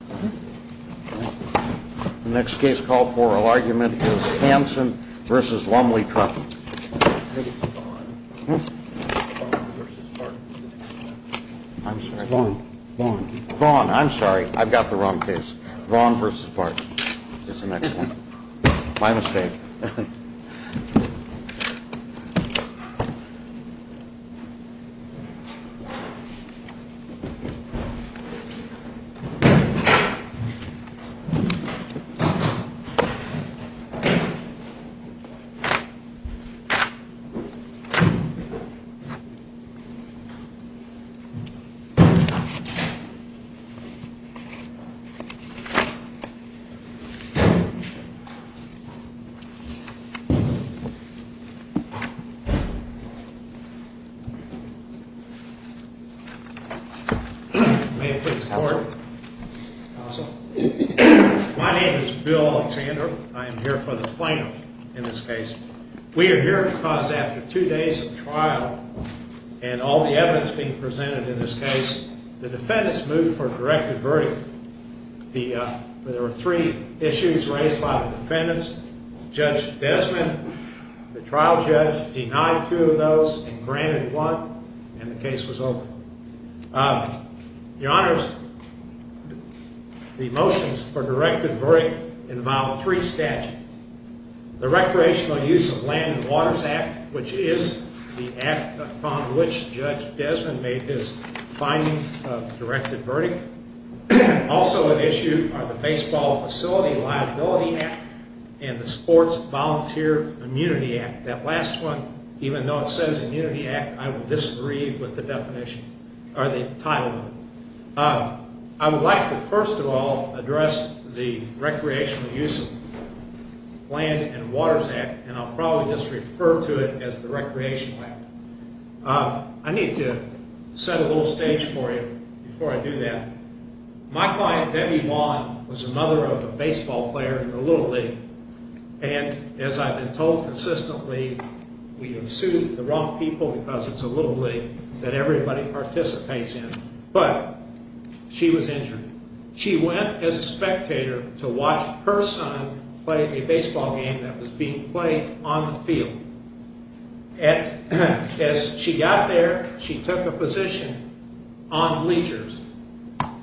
The next case call for oral argument is Hanson v. Lumley-Truffitt. I think it's Vaughn. Vaughn v. Barton. I'm sorry. Vaughn. Vaughn. Vaughn. I'm sorry. I've got the wrong case. Vaughn v. Barton is the next one. My mistake. May it please the court. My name is Bill Alexander. I am here for the plaintiff in this case. We are here because after two days of trial and all the evidence being presented in this case, the defendants moved for a directive verdict. There were three issues raised by the defendants. Judge Desmond, the trial judge, denied two of those and granted one, and the case was over. Your Honors, the motions for directive verdict involve three statutes. The Recreational Use of Land and Waters Act, which is the act upon which Judge Desmond made his finding of directive verdict. Also at issue are the Baseball Facility Liability Act and the Sports Volunteer Immunity Act. That last one, even though it says Immunity Act, I would disagree with the title of it. I would like to first of all address the Recreational Use of Land and Waters Act, and I'll probably just refer to it as the Recreational Act. I need to set a little stage for you before I do that. My client, Debbie Vaughn, was the mother of a baseball player in the Little League, and as I've been told consistently, we have sued the wrong people because it's a little league that everybody participates in. But she was injured. She went as a spectator to watch her son play a baseball game that was being played on the field. As she got there, she took a position on leisures.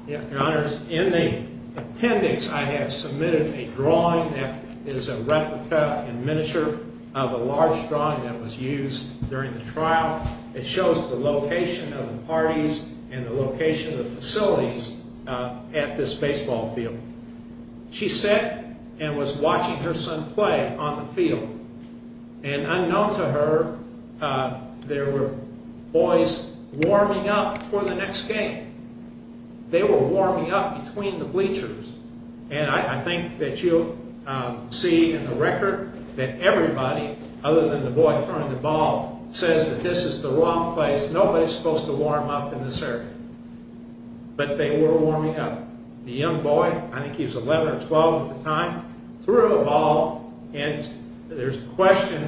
Your Honors, in the appendix I have submitted a drawing that is a replica in miniature of a large drawing that was used during the trial. It shows the location of the parties and the location of the facilities at this baseball field. She sat and was watching her son play on the field. And unknown to her, there were boys warming up for the next game. They were warming up between the bleachers. And I think that you'll see in the record that everybody, other than the boy throwing the ball, says that this is the wrong place. Nobody's supposed to warm up in this area. But they were warming up. The young boy, I think he was 11 or 12 at the time, threw a ball, and there's a question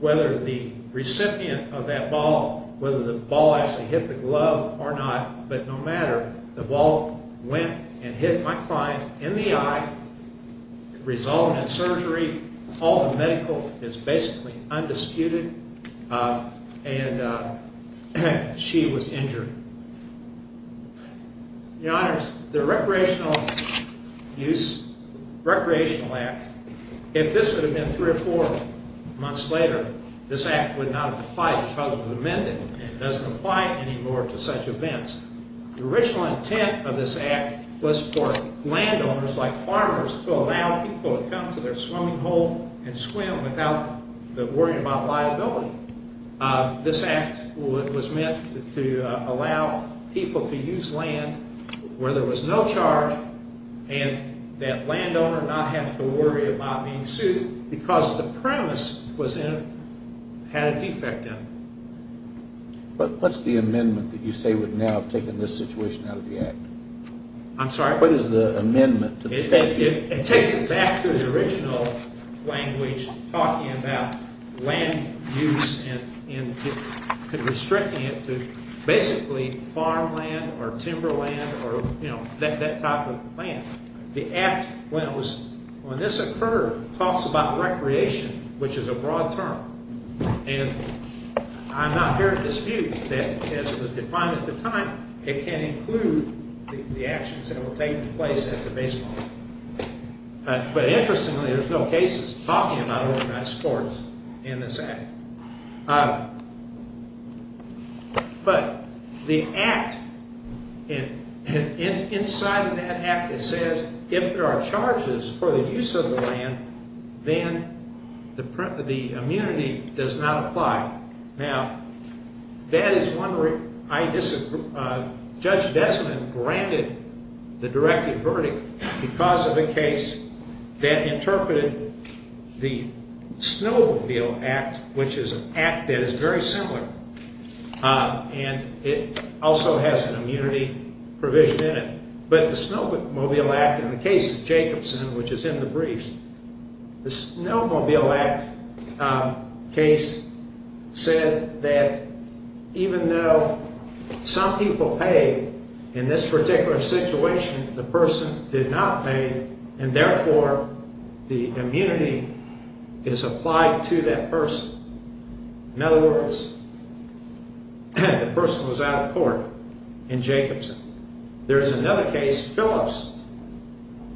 whether the recipient of that ball, whether the ball actually hit the glove or not, but no matter, the ball went and hit my client in the eye, resulting in surgery. All the medical is basically undisputed. And she was injured. Your Honors, the Recreational Act, if this would have been three or four months later, this act would not have applied because it was amended. It doesn't apply anymore to such events. The original intent of this act was for landowners, like farmers, to allow people to come to their swimming hole and swim without worrying about liability. This act was meant to allow people to use land where there was no charge and that landowners not have to worry about being sued because the premise had a defect in it. What's the amendment that you say would now have taken this situation out of the act? I'm sorry? What is the amendment to the statute? It takes it back to the original language talking about land use and restricting it to basically farmland or timberland or that type of land. The act, when this occurred, talks about recreation, which is a broad term. And I'm not here to dispute that, as it was defined at the time, it can include the actions that were taken in place at the baseball game. But interestingly, there's no cases talking about overnight sports in this act. But the act, inside of that act, it says if there are charges for the use of the land, then the immunity does not apply. Now, that is one where I disagree. Judge Desmond granted the directive verdict because of a case that interpreted the Snowmobile Act, which is an act that is very similar, and it also has an immunity provision in it. But the Snowmobile Act, in the case of Jacobson, which is in the briefs, the Snowmobile Act case said that even though some people paid, in this particular situation, the person did not pay, and therefore the immunity is applied to that person. In other words, the person was out of court in Jacobson. There is another case, Phillips.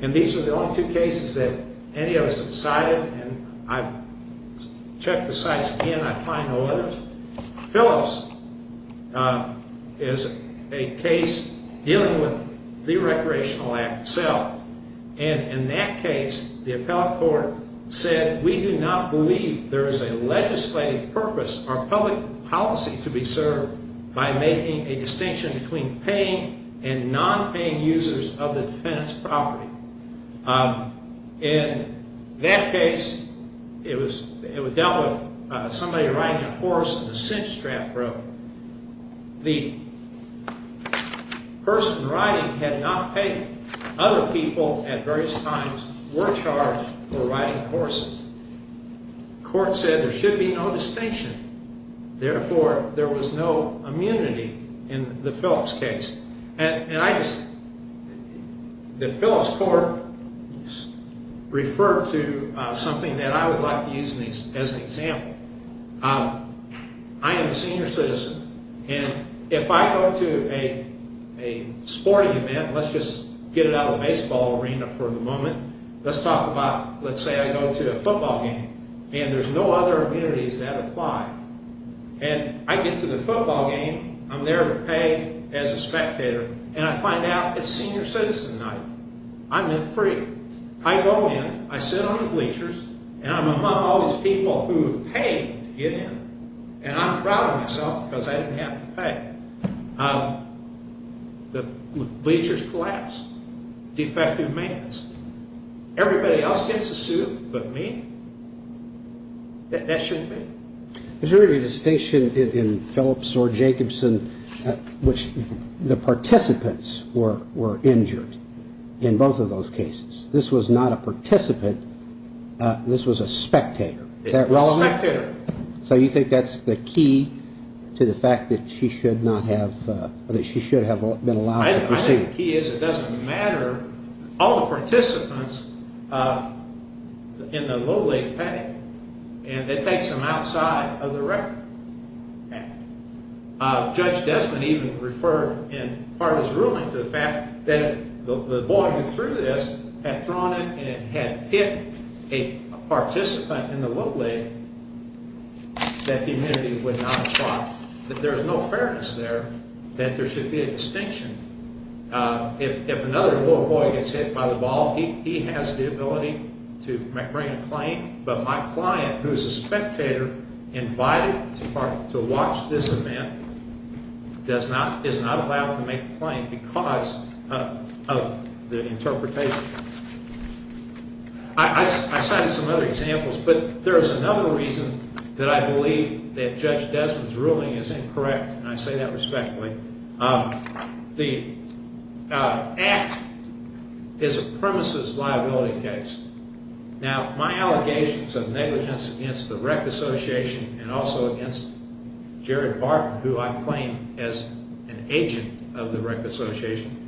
And these are the only two cases that any of us have cited, and I've checked the sites again, I find no others. Phillips is a case dealing with the Recreational Act itself. And in that case, the appellate court said, we do not believe there is a legislative purpose or public policy to be served by making a distinction between paying and non-paying users of the defendant's property. In that case, it was dealt with somebody riding a horse in a cinch strap rope. The person riding had not paid. Other people at various times were charged for riding horses. The court said there should be no distinction. Therefore, there was no immunity in the Phillips case. The Phillips court referred to something that I would like to use as an example. I am a senior citizen, and if I go to a sporting event, let's just get it out of the baseball arena for the moment, let's talk about, let's say I go to a football game, and there's no other immunities that apply. And I get to the football game, I'm there to pay as a spectator, and I find out it's senior citizen night. I'm in free. I go in, I sit on the bleachers, and I'm among all these people who have paid to get in. And I'm proud of myself because I didn't have to pay. The bleachers collapse. Defective maintenance. Everybody else gets a suit but me. That shouldn't be. Is there any distinction in Phillips or Jacobson which the participants were injured in both of those cases? This was not a participant. This was a spectator. Spectator. So you think that's the key to the fact that she should have been allowed to proceed? I think the key is it doesn't matter. All the participants in the low leg pay, and that takes them outside of the record. Judge Desmond even referred in part of his ruling to the fact that if the boy who threw this had thrown it and it had hit a participant in the low leg, that the immunity would not apply. That there is no fairness there. That there should be a distinction. If another boy gets hit by the ball, he has the ability to bring a claim. But my client, who is a spectator, invited to watch this event, is not allowed to make a claim because of the interpretation. I cited some other examples, but there is another reason that I believe that Judge Desmond's ruling is incorrect, and I say that respectfully. The act is a premises liability case. Now, my allegations of negligence against the rec association and also against Jared Barton, who I claim as an agent of the rec association,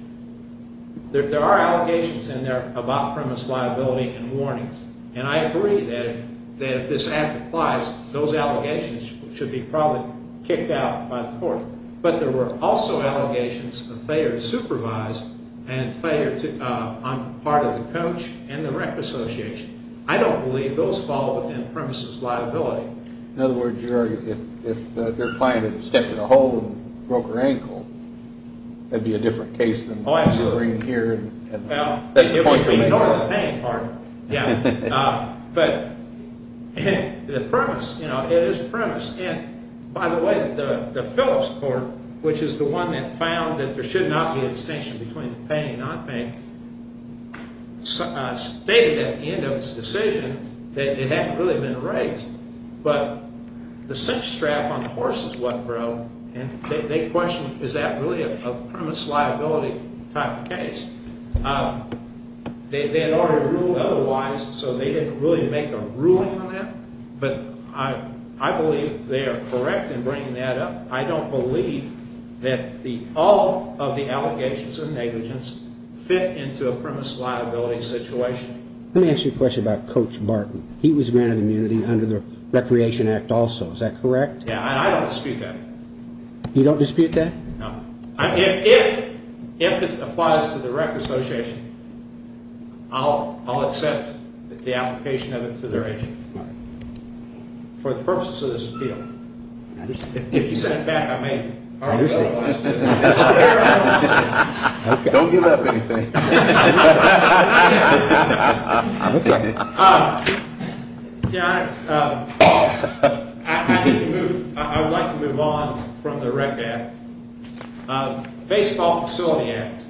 there are allegations in there about premise liability and warnings. And I agree that if this act applies, those allegations should be probably kicked out by the court. But there were also allegations of failure to supervise and failure on part of the coach and the rec association. I don't believe those fall within premises liability. In other words, if your client had stepped in a hole and broke her ankle, that would be a different case than what you're bringing here. Well, if we ignore the pain part, yeah. But the premise, you know, it is premise. And by the way, the Phillips court, which is the one that found that there should not be a distinction between pain and non-pain, stated at the end of its decision that it hadn't really been raised. But the cinch strap on the horse is what broke, and they questioned, is that really a premise liability type of case? They had already ruled otherwise, so they didn't really make a ruling on that. But I believe they are correct in bringing that up. I don't believe that all of the allegations of negligence fit into a premise liability situation. Let me ask you a question about Coach Barton. He was granted immunity under the Recreation Act also. Is that correct? Yeah, and I don't dispute that. You don't dispute that? No. If it applies to the rec association, I'll accept the application of it to their agent for the purposes of this appeal. If you set it back, I may argue otherwise. Don't give up anything. To be honest, I would like to move on from the Rec Act. Baseball Facility Act.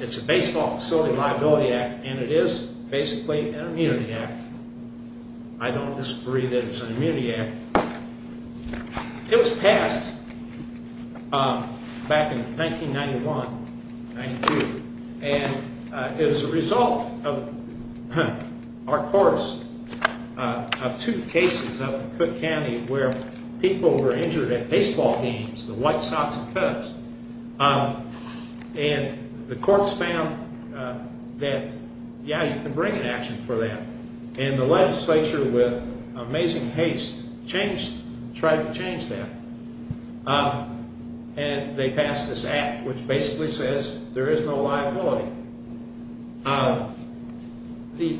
It's a baseball facility liability act, and it is basically an immunity act. I don't disagree that it's an immunity act. It was passed back in 1991, 92, and it was a result of our courts of two cases up in Cook County where people were injured at baseball games, the White Sox and Cubs. The courts found that, yeah, you can bring an action for that, and the legislature, with amazing haste, tried to change that. They passed this act, which basically says there is no liability. The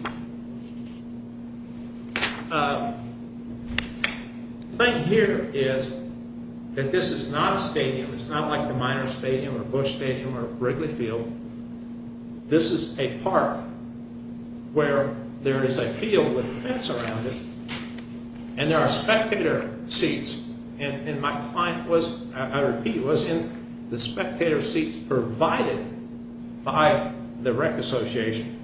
thing here is that this is not a stadium. It's not like the Miners Stadium or Bush Stadium or Wrigley Field. This is a park where there is a field with a fence around it, and there are spectator seats. My client was, I repeat, was in the spectator seats provided by the rec association.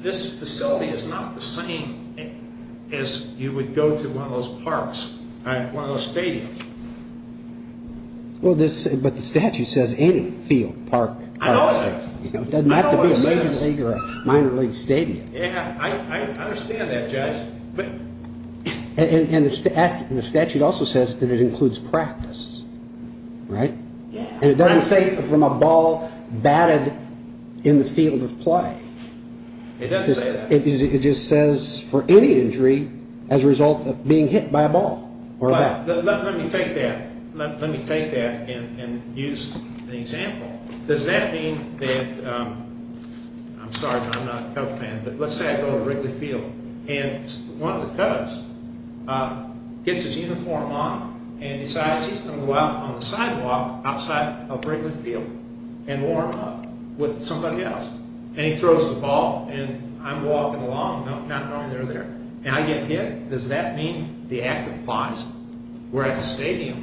This facility is not the same as you would go to one of those parks, one of those stadiums. Well, but the statute says any field, park, or stadium. I know it does. It doesn't have to be a major league or a minor league stadium. Yeah, I understand that, Judge. And the statute also says that it includes practice, right? Yeah. And it doesn't say from a ball batted in the field of play. It doesn't say that. It just says for any injury as a result of being hit by a ball or a bat. Let me take that and use an example. Does that mean that, I'm sorry, I'm not a Cubs fan, but let's say I go to Wrigley Field, and one of the Cubs gets his uniform on and decides he's going to go out on the sidewalk outside of Wrigley Field and warm up with somebody else. And he throws the ball, and I'm walking along, not knowing they're there. And I get hit? Does that mean the act applies? We're at the stadium.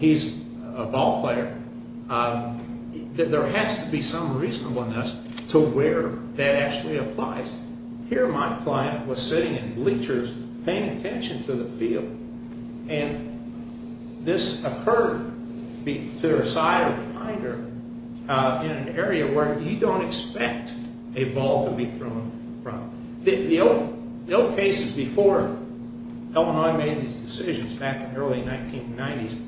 He's a ball player. There has to be some reasonableness to where that actually applies. Here my client was sitting in bleachers paying attention to the field, and this occurred to their side or behind her in an area where you don't expect a ball to be thrown from. The old cases before Illinois made these decisions back in the early 1990s,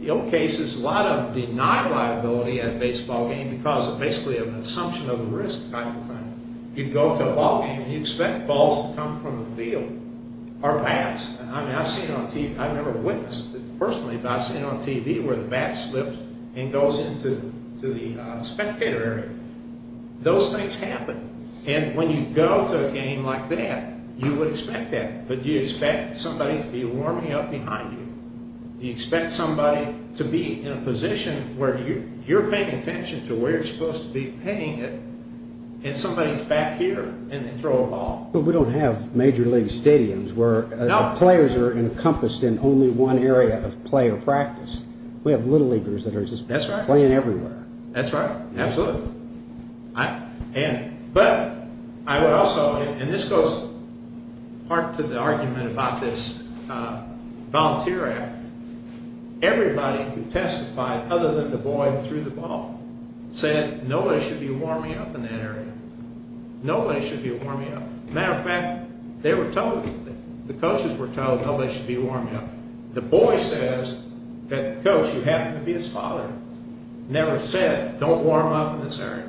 the old cases, a lot of denied liability at a baseball game because basically of an assumption of the risk type of thing. You'd go to a ball game, and you'd expect balls to come from the field or bats. I've never witnessed it personally, but I've seen it on TV where the bat slips and goes into the spectator area. Those things happen. And when you go to a game like that, you would expect that. But do you expect somebody to be warming up behind you? Do you expect somebody to be in a position where you're paying attention to where you're supposed to be paying it, and somebody's back here, and they throw a ball? But we don't have major league stadiums where the players are encompassed in only one area of player practice. We have little leaguers that are just playing everywhere. That's right. Absolutely. But I would also, and this goes part to the argument about this Volunteer Act, everybody who testified other than the boy threw the ball said nobody should be warming up in that area. Nobody should be warming up. Matter of fact, they were told, the coaches were told nobody should be warming up. The boy says that, coach, you happen to be his father. Never said don't warm up in this area.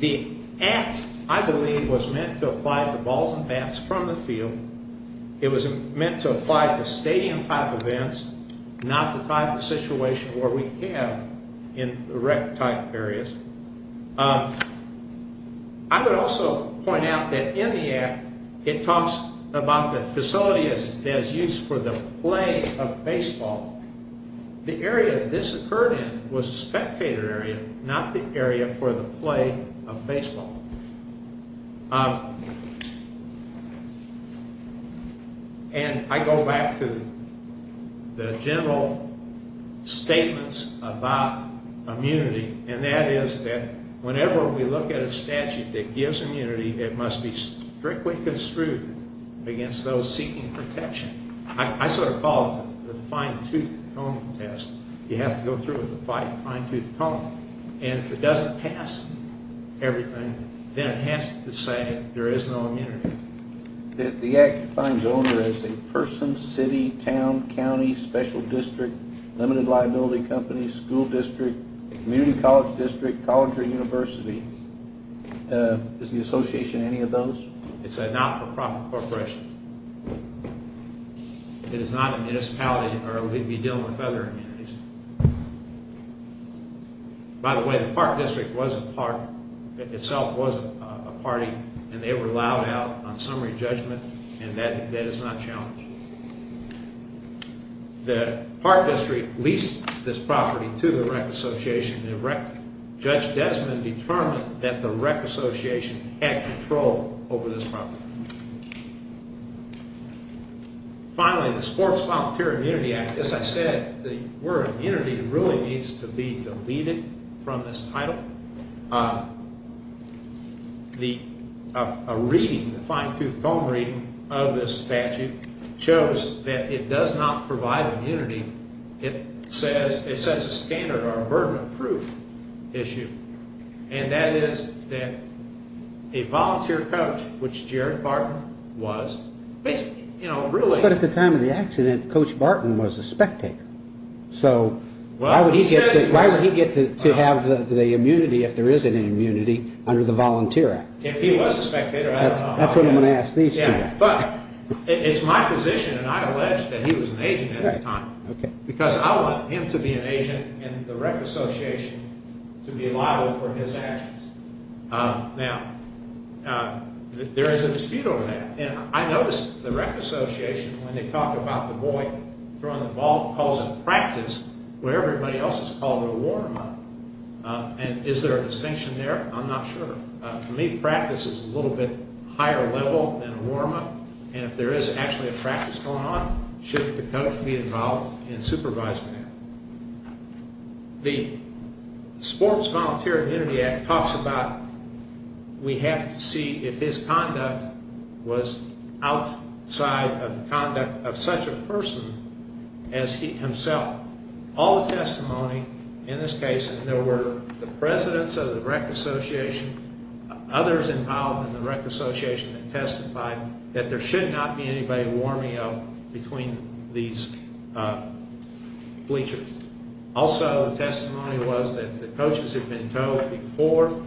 The act, I believe, was meant to apply to balls and bats from the field. It was meant to apply to stadium-type events, not the type of situation where we have in the rec-type areas. I would also point out that in the act, it talks about the facility as used for the play of baseball. The area this occurred in was a spectator area, not the area for the play of baseball. And I go back to the general statements about immunity, and that is that whenever we look at a statute that gives immunity, it must be strictly construed against those seeking protection. I sort of call it the fine-tooth comb test. You have to go through with a fine-tooth comb. And if it doesn't pass everything, then it has to say there is no immunity. The act defines owner as a person, city, town, county, special district, limited liability company, school district, community college district, college or university. Is the association any of those? It's a not-for-profit corporation. It is not a municipality or we'd be dealing with other entities. By the way, the park district itself was a party, and they were allowed out on summary judgment, and that is not challenged. The park district leased this property to the rec association. Judge Desmond determined that the rec association had control over this property. Finally, the Sports Volunteer Immunity Act. As I said, the word immunity really needs to be deleted from this title. A reading, a fine-tooth comb reading of this statute shows that it does not provide immunity. It sets a standard or a burden of proof issue, and that is that a volunteer coach, which Jared Barton was, But at the time of the accident, Coach Barton was a spectator. So why would he get to have the immunity if there isn't an immunity under the Volunteer Act? If he was a spectator, I don't know. That's what I'm going to ask these two guys. It's my position, and I allege that he was an agent at the time, because I want him to be an agent and the rec association to be liable for his actions. Now, there is a dispute over that. And I noticed the rec association, when they talk about the boy throwing the ball, calls it practice, where everybody else has called it a warm-up. And is there a distinction there? I'm not sure. To me, practice is a little bit higher level than a warm-up. And if there is actually a practice going on, shouldn't the coach be involved in supervising that? The Sports Volunteer Immunity Act talks about, we have to see if his conduct was outside of the conduct of such a person as himself. All the testimony in this case, and there were the presidents of the rec association, others involved in the rec association that testified that there should not be anybody warming up between these bleachers. Also, the testimony was that the coaches had been told before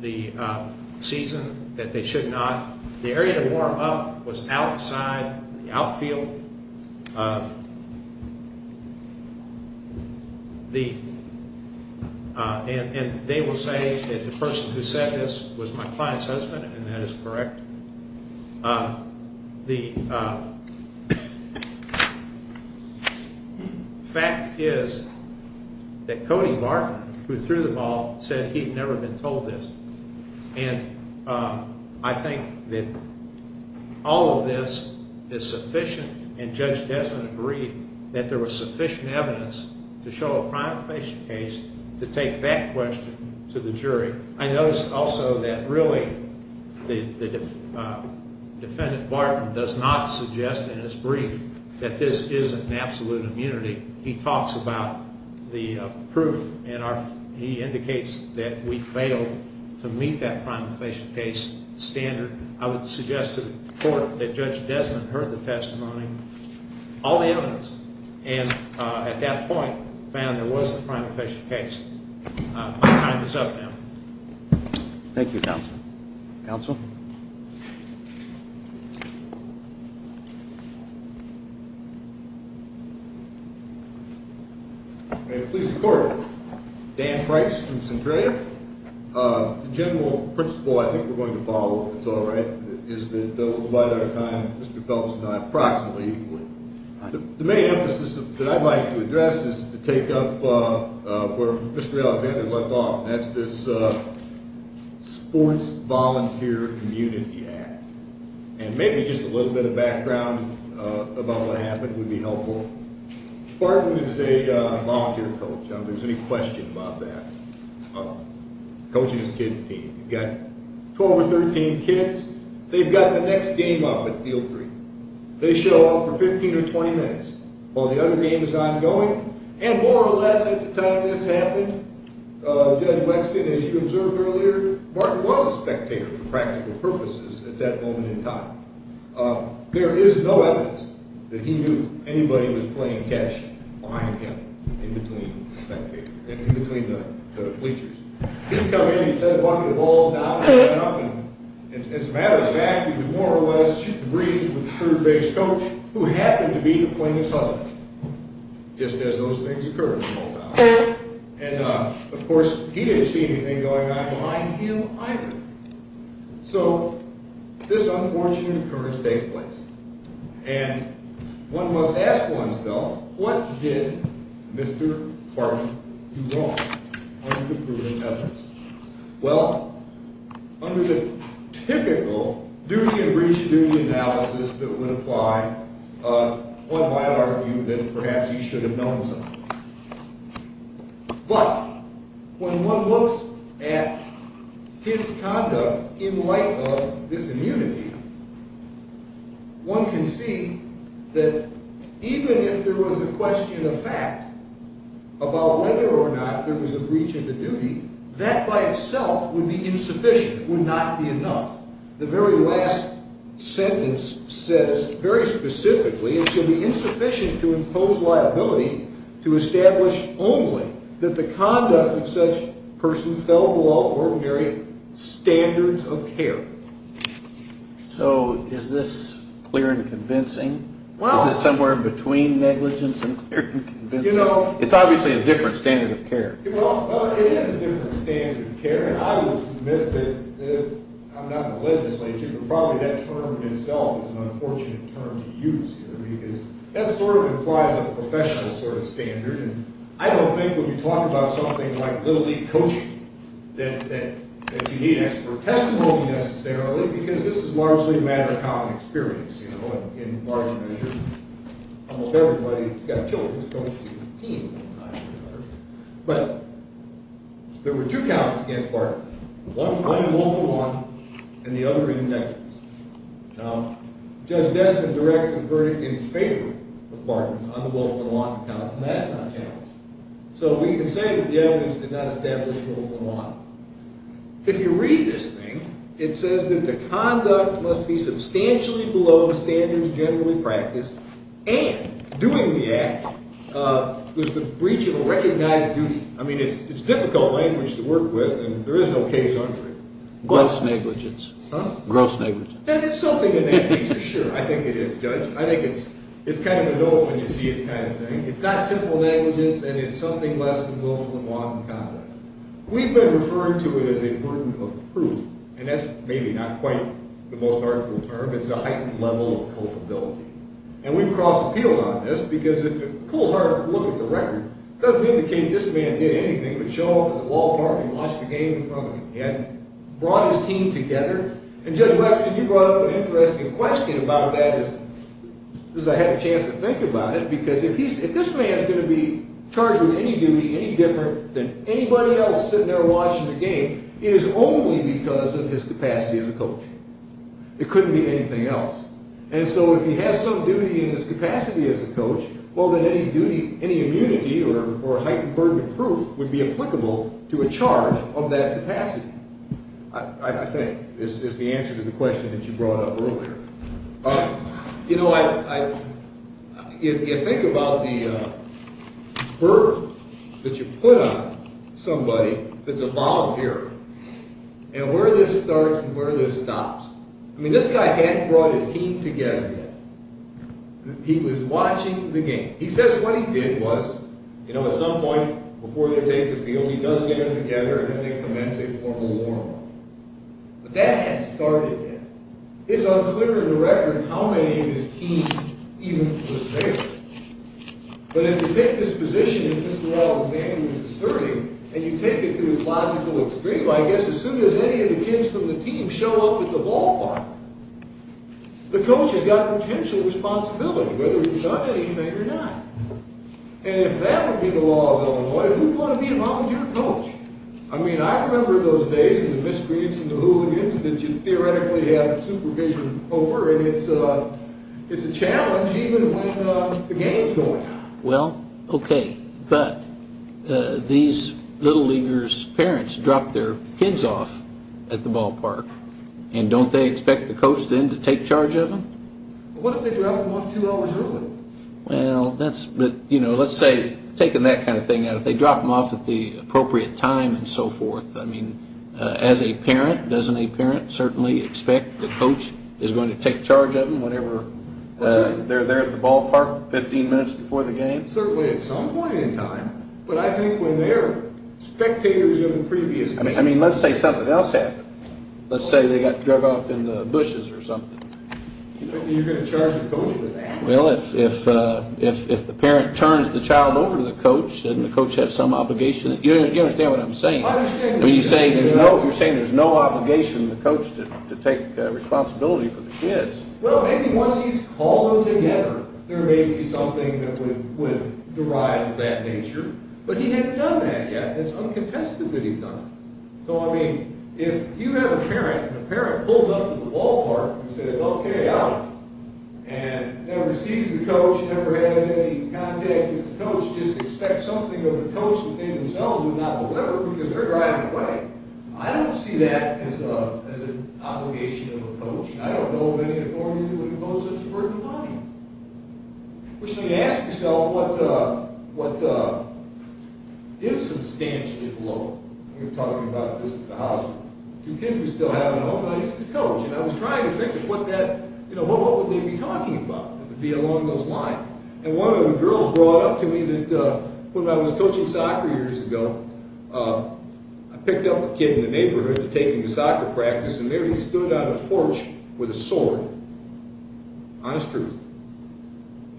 the season that they should not. The area to warm up was outside the outfield. And they will say that the person who said this was my client's husband, and that is correct. The fact is that Cody Martin, who threw the ball, said he had never been told this. And I think that all of this is sufficient, and Judge Desmond agreed, that there was sufficient evidence to show a primary patient case to take that question to the jury. I noticed also that really the defendant, Martin, does not suggest in his brief that this isn't an absolute immunity. He talks about the proof, and he indicates that we failed to meet that primary patient case standard. I would suggest to the court that Judge Desmond heard the testimony, all the evidence, and at that point found there was a primary patient case. My time is up now. Thank you, Counsel. Counsel? May it please the Court. Dan Price from Centralia. The general principle I think we're going to follow, if it's all right, is that we'll divide our time, Mr. Phelps and I, approximately equally. The main emphasis that I'd like to address is to take up where Mr. Alexander left off, and that's this Sports Volunteer Community Act. And maybe just a little bit of background about what happened would be helpful. Martin is a volunteer coach, if there's any question about that, coaching his kids' team. He's got 12 or 13 kids. They've got the next game up at field three. They show up for 15 or 20 minutes while the other game is ongoing, and more or less at the time this happened, Judge Wexton, as you observed earlier, Martin was a spectator for practical purposes at that moment in time. There is no evidence that he knew anybody was playing catch behind him in between the bleachers. He'd come in, he'd set a bucket of balls down, he'd run up, and as a matter of fact, he was more or less shoot the breeze with the third-base coach, who happened to be the plaintiff's husband, just as those things occur in small towns. And, of course, he didn't see anything going on behind him either. So this unfortunate occurrence takes place, and one must ask oneself, what did Mr. Martin do wrong under the proven evidence? Well, under the typical duty and breach of duty analysis that would apply, one might argue that perhaps he should have known something. But when one looks at his conduct in light of this immunity, one can see that even if there was a question of fact about whether or not there was a breach of the duty, that by itself would be insufficient, would not be enough. The very last sentence says very specifically, it should be insufficient to impose liability to establish only that the conduct of such person fell below ordinary standards of care. So is this clear and convincing? Is it somewhere between negligence and clear and convincing? It's obviously a different standard of care. Well, it is a different standard of care, and I would submit that, I'm not in the legislature, but probably that term itself is an unfortunate term to use here, because that sort of implies a professional sort of standard, and I don't think when we talk about something like little league coaching that you need expert testimony necessarily, because this is largely a matter of common experience, you know, in large measure. Almost everybody who's got children is coaching a team all the time. But there were two counts against Barton. One in Wolfram Lawton and the other in negligence. Now, Judge Destin directs the verdict in favor of Barton on the Wolfram Lawton counts, and that's not challenged. So we can say that the evidence did not establish Wolfram Lawton. If you read this thing, it says that the conduct must be substantially below standards generally practiced and doing the act was the breach of a recognized duty. I mean, it's difficult language to work with, and there is no case under it. Gross negligence. Huh? Gross negligence. And it's something in that nature, sure. I think it is, Judge. I think it's kind of a dull-when-you-see-it kind of thing. It's not simple negligence, and it's something less than Wolfram Lawton conduct. We've been referring to it as a burden of proof, and that's maybe not quite the most article term. It's a heightened level of culpability, and we've cross-appealed on this, because if you pull hard and look at the record, it doesn't indicate this man did anything but show up at the ballpark and watch the game in front of him. He hadn't brought his team together. And, Judge Wexner, you brought up an interesting question about that, as I had a chance to think about it, because if this man is going to be charged with any duty, any different than anybody else sitting there watching the game, it is only because of his capacity as a coach. It couldn't be anything else. And so if he has some duty in his capacity as a coach, well, then any duty, any immunity or heightened burden of proof would be applicable to a charge of that capacity, I think, is the answer to the question that you brought up earlier. You know, you think about the burden that you put on somebody that's a volunteer, and where this starts and where this stops. I mean, this guy hadn't brought his team together yet. He was watching the game. He says what he did was, you know, at some point before they take the field, he does get them together and then they commence a formal warm-up. But that hadn't started yet. It's unclear in the record how many of his team even was there. But if you take this position that Mr. Alexander was asserting, and you take it to its logical extreme, I guess, as soon as any of the kids from the team show up at the ballpark, the coach has got potential responsibility, whether he's done anything or not. And if that would be the law of Illinois, who would want to be a volunteer coach? I mean, I remember in those days in the miscreants and the hooligans that you theoretically had supervision over, and it's a challenge even when the game's going on. Well, okay, but these little leaguers' parents drop their kids off at the ballpark, and don't they expect the coach then to take charge of them? What if they drop them off two hours early? Well, that's, you know, let's say taking that kind of thing out, if they drop them off at the appropriate time and so forth, I mean, as a parent, doesn't a parent certainly expect the coach is going to take charge of them when they're there at the ballpark 15 minutes before the game? Certainly at some point in time, but I think when they're spectators of the previous game. I mean, let's say something else happened. Let's say they got drug off in the bushes or something. You're going to charge the coach with that? Well, if the parent turns the child over to the coach, doesn't the coach have some obligation? You understand what I'm saying? I understand what you're saying. You're saying there's no obligation to the coach to take responsibility for the kids. Well, maybe once he's called them together, there may be something that would derive of that nature. But he hasn't done that yet. It's uncontested that he's done it. So, I mean, if you have a parent, and the parent pulls up to the ballpark and says, okay, out, and never sees the coach, never has any contact with the coach, just expects something of the coach that they themselves would not deliver because they're driving away. I don't see that as an obligation of the coach. I don't know of any authority that would impose such a burden on him. You ask yourself what is substantially below. We were talking about this at the hospital. Two kids we still have at home, and I used to coach. And I was trying to think of what would they be talking about if it would be along those lines. And one of the girls brought up to me that when I was coaching soccer years ago, I picked up a kid in the neighborhood to take him to soccer practice, and there he stood on a porch with a sword. Honest truth.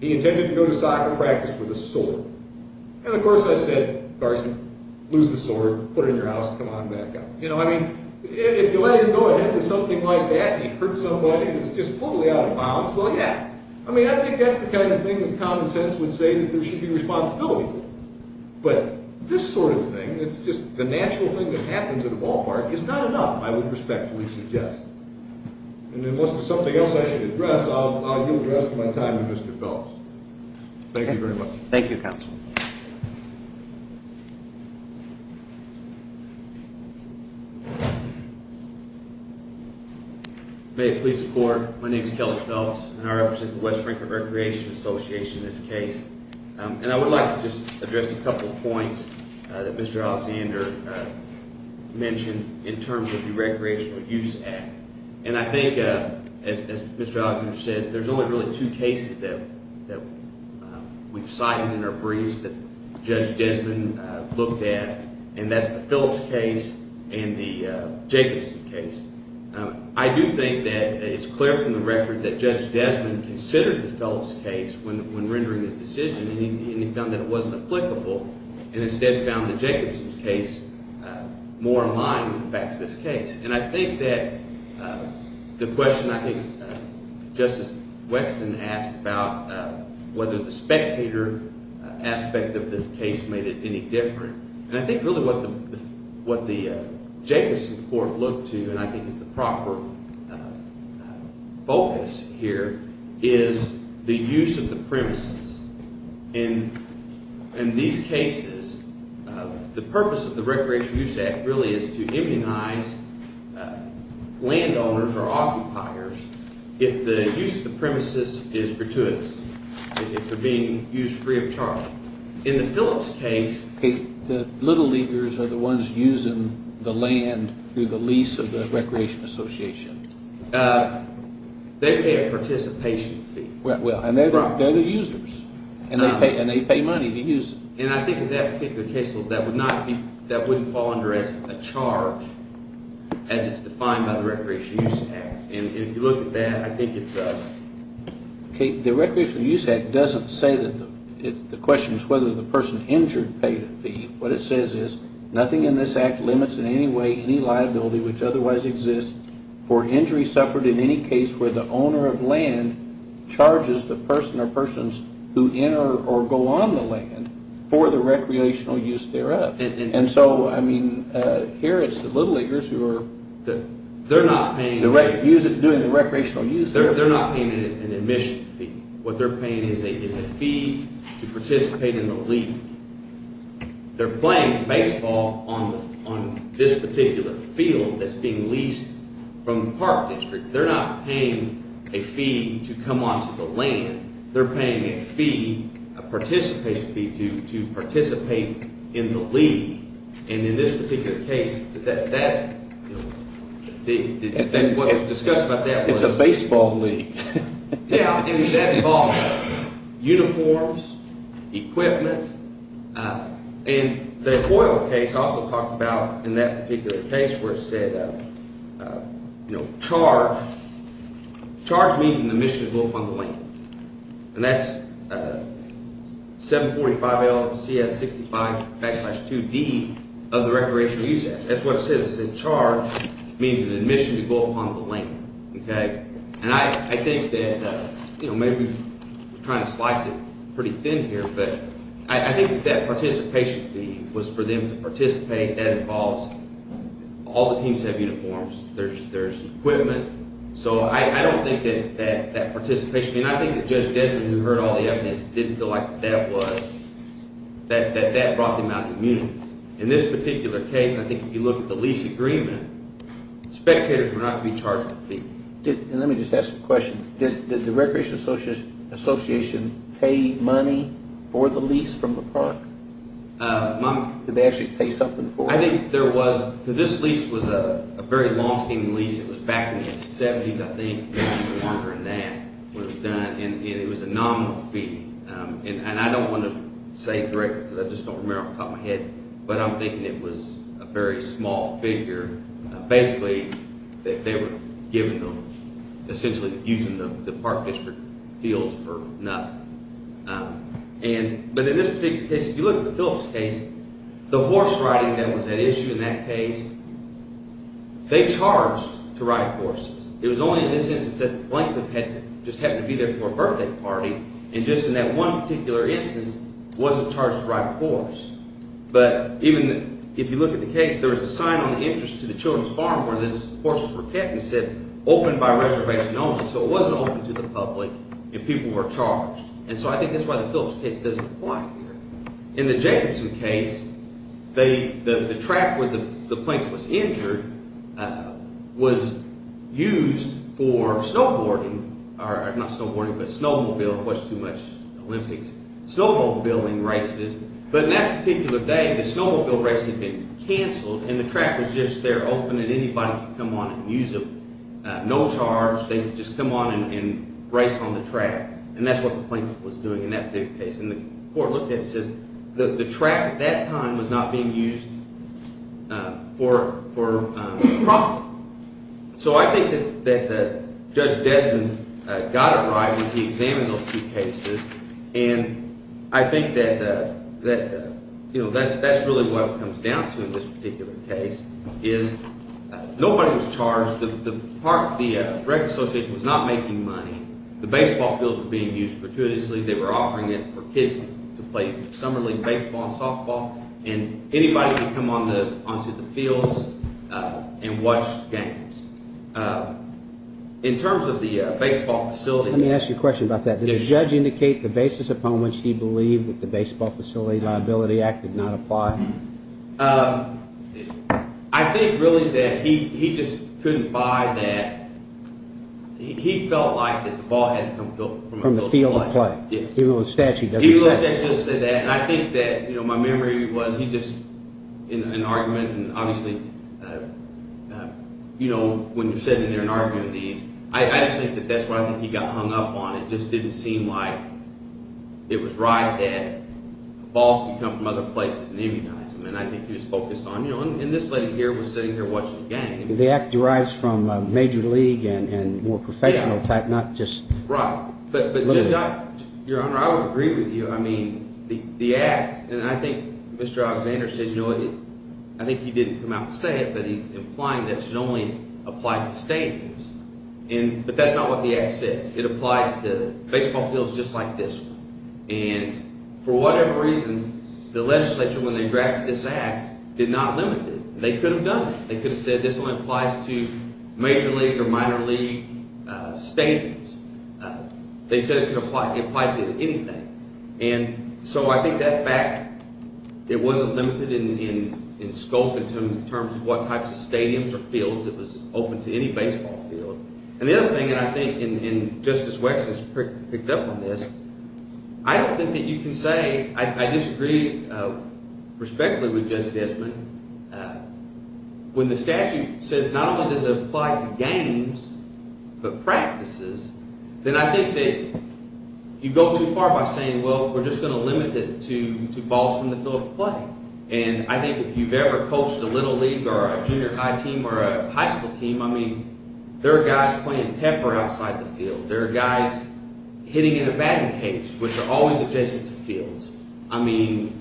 He intended to go to soccer practice with a sword. And, of course, I said, Garson, lose the sword, put it in your house, and come on back up. You know, I mean, if you let him go ahead with something like that, and he hurts somebody, and it's just totally out of bounds, well, yeah. I mean, I think that's the kind of thing that common sense would say that there should be responsibility for. But this sort of thing, it's just the natural thing that happens at a ballpark, is not enough, I would respectfully suggest. And unless there's something else I should address, I'll give the rest of my time to Mr. Phelps. Thank you very much. Thank you, Counsel. May it please the Court, my name is Kelly Phelps, and I represent the West Franklin Recreation Association in this case. And I would like to just address a couple of points that Mr. Alexander mentioned in terms of the Recreational Use Act. And I think, as Mr. Alexander said, there's only really two cases that we've cited in our briefs that Judge Desmond looked at, and that's the Phillips case and the Jacobson case. I do think that it's clear from the record that Judge Desmond considered the Phillips case when rendering his decision, and he found that it wasn't applicable and instead found the Jacobson case more in line with the facts of this case. And I think that the question I think Justice Weston asked about whether the spectator aspect of this case made it any different, and I think really what the Jacobson court looked to, and I think is the proper focus here, is the use of the premises. In these cases, the purpose of the Recreational Use Act really is to immunize landowners or occupiers if the use of the premises is gratuitous, if they're being used free of charge. In the Phillips case, the little leaguers are the ones using the land through the lease of the Recreation Association. They pay a participation fee. And they're the users, and they pay money to use it. And I think in that particular case, that wouldn't fall under a charge as it's defined by the Recreational Use Act. And if you look at that, I think it's... The Recreational Use Act doesn't say that... The question is whether the person injured paid a fee. What it says is, nothing in this act limits in any way any liability which otherwise exists for injury suffered in any case where the owner of land charges the person or persons who enter or go on the land for the recreational use thereof. And so, I mean, here it's the little leaguers who are... They're not paying... What they're paying is a fee to participate in the league. They're playing baseball on this particular field that's being leased from the Park District. They're not paying a fee to come onto the land. They're paying a fee, a participation fee, to participate in the league. And in this particular case, that... What was discussed about that was... It's a baseball league. Yeah, and that involves uniforms, equipment. And the oil case also talked about, in that particular case, where it said, you know, charge. Charge means an admission to go upon the land. And that's 745LCS65-2D of the Recreational Use Act. That's what it says. It says charge means an admission to go upon the land, okay? And I think that, you know, maybe we're trying to slice it pretty thin here, but I think that participation fee was for them to participate. That involves... All the teams have uniforms. There's equipment. So I don't think that participation... And I think that Judge Desmond, who heard all the evidence, didn't feel like that was... That that brought them out of the meeting. In this particular case, I think if you look at the lease agreement, spectators were not to be charged a fee. And let me just ask a question. Did the Recreation Association pay money for the lease from the park? Did they actually pay something for it? I think there was... Because this lease was a very long-standing lease. It was back in the 70s, I think, if I remember that, when it was done. And it was a nominal fee. And I don't want to say it directly because I just don't remember off the top of my head, but I'm thinking it was a very small figure, basically, that they were giving them, essentially using the park district fields for nothing. But in this particular case, if you look at the Phillips case, the horse riding that was at issue in that case, they charged to ride horses. It was only in this instance that the plaintiff just happened to be there for a birthday party, and just in that one particular instance wasn't charged to ride a horse. But even if you look at the case, there was a sign on the entrance to the children's farm where this horse was kept, and it said, open by reservation only. So it wasn't open to the public if people were charged. And so I think that's why the Phillips case doesn't apply here. In the Jacobson case, the track where the plaintiff was injured was used for snowboarding, or not snowboarding, but snowmobiling. It wasn't too much Olympics. Snowmobiling races. But in that particular day, the snowmobile race had been canceled, and the track was just there open, and anybody could come on and use it. No charge. They could just come on and race on the track. And that's what the plaintiff was doing in that particular case. And the court looked at it and says the track at that time was not being used for profit. So I think that Judge Desmond got it right when he examined those two cases, and I think that that's really what it comes down to in this particular case, is nobody was charged. The rec association was not making money. The baseball fields were being used fortuitously. They were offering it for kids to play summer league baseball and softball, and anybody could come onto the fields and watch games. In terms of the baseball facility. Let me ask you a question about that. Did the judge indicate the basis upon which he believed that the Baseball Facility Liability Act did not apply? I think really that he just couldn't buy that. He felt like that the ball had to come from the field of play. Even though the statute doesn't say that. Even though the statute doesn't say that. And I think that my memory was he just, in an argument, and obviously when you're sitting there and arguing these, I just think that that's what I think he got hung up on. It just didn't seem like it was right that balls could come from other places and immunize them, and I think he was focused on, you know, and this lady here was sitting there watching the game. The act derives from major league and more professional type, not just. Right. But Judge, Your Honor, I would agree with you. I mean, the act, and I think Mr. Alexander said, you know, I think he didn't come out and say it, but he's implying that it should only apply to stadiums. But that's not what the act says. It applies to baseball fields just like this one. And for whatever reason, the legislature, when they drafted this act, did not limit it. They could have done it. They could have said this only applies to major league or minor league stadiums. They said it could apply to anything. And so I think that fact, it wasn't limited in scope in terms of what types of stadiums or fields. It was open to any baseball field. And the other thing that I think, and Justice Wexler has picked up on this, I don't think that you can say I disagree respectfully with Judge Desmond. When the statute says not only does it apply to games but practices, then I think that you go too far by saying, well, we're just going to limit it to balls from the field of play. And I think if you've ever coached a little league or a junior high team or a high school team, I mean, there are guys playing pepper outside the field. There are guys hitting in a batting cage, which are always adjacent to fields. I mean,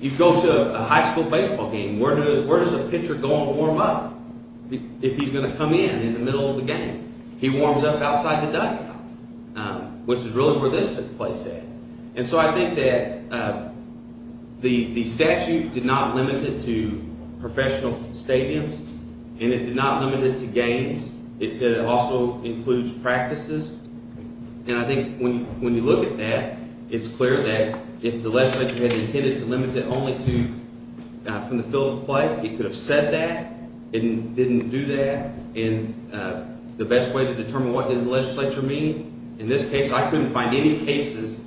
you go to a high school baseball game. Where does a pitcher go and warm up if he's going to come in in the middle of the game? He warms up outside the dugout, which is really where this took place at. And so I think that the statute did not limit it to professional stadiums, and it did not limit it to games. It said it also includes practices. And I think when you look at that, it's clear that if the legislature had intended to limit it only to from the field of play, it could have said that. It didn't do that. And the best way to determine what did the legislature mean? In this case, I couldn't find any cases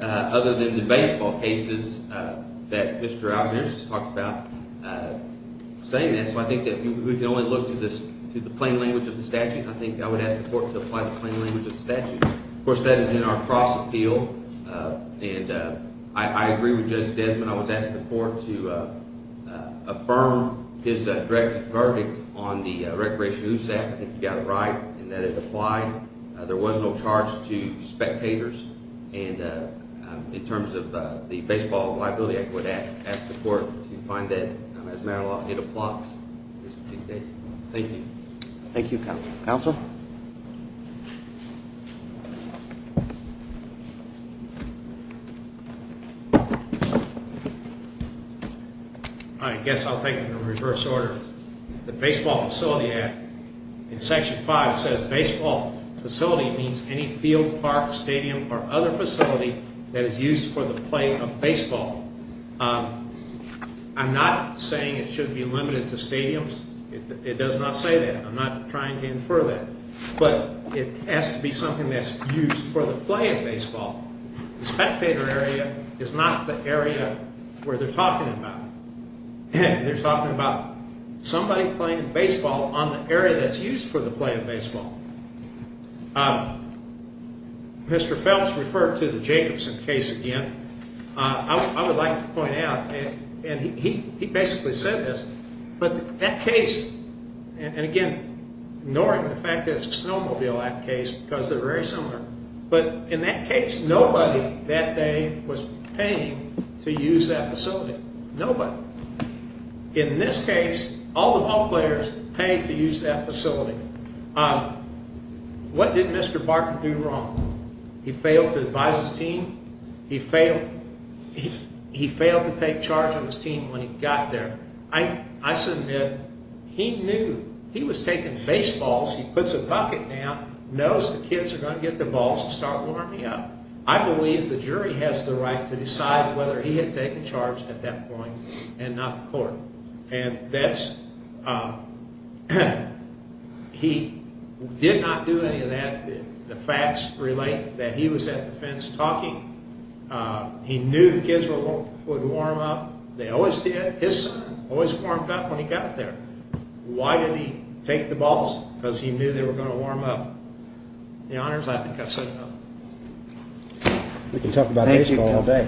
other than the baseball cases that Mr. Alexander talked about saying that. So I think that we can only look to the plain language of the statute. I think I would ask the court to apply the plain language of the statute. Of course, that is in our cross-appeal. And I agree with Judge Desmond. I would ask the court to affirm his direct verdict on the Recreation Use Act, if you've got it right, and that it applied. There was no charge to spectators. And in terms of the Baseball Liability Act, I would ask the court to find that, as matter of law, it applies in this particular case. Thank you. Thank you, counsel. Counsel? I guess I'll take it in reverse order. The Baseball Facility Act, in Section 5, says baseball facility means any field, park, stadium, or other facility that is used for the play of baseball. I'm not saying it should be limited to stadiums. It does not say that. I'm not trying to infer that. But it has to be something that's used for the play of baseball. The spectator area is not the area where they're talking about. They're talking about somebody playing baseball on the area that's used for the play of baseball. Mr. Phelps referred to the Jacobson case again. I would like to point out, and he basically said this, but that case, and again, ignoring the fact that it's a Snowmobile Act case because they're very similar, but in that case, nobody that day was paying to use that facility. Nobody. In this case, all the ballplayers paid to use that facility. What did Mr. Barker do wrong? He failed to advise his team. He failed to take charge of his team when he got there. I submit he knew he was taking baseballs. He puts a bucket down, knows the kids are going to get the balls to start warming up. I believe the jury has the right to decide whether he had taken charge at that point and not the court. He did not do any of that. The facts relate that he was at the fence talking. He knew the kids would warm up. They always did. His son always warmed up when he got there. Why did he take the balls? Because he knew they were going to warm up. The honors, I think, I've said enough. We can talk about baseball all day.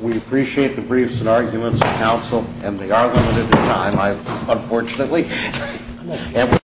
We appreciate the briefs and arguments of counsel, and they are limited in time, unfortunately.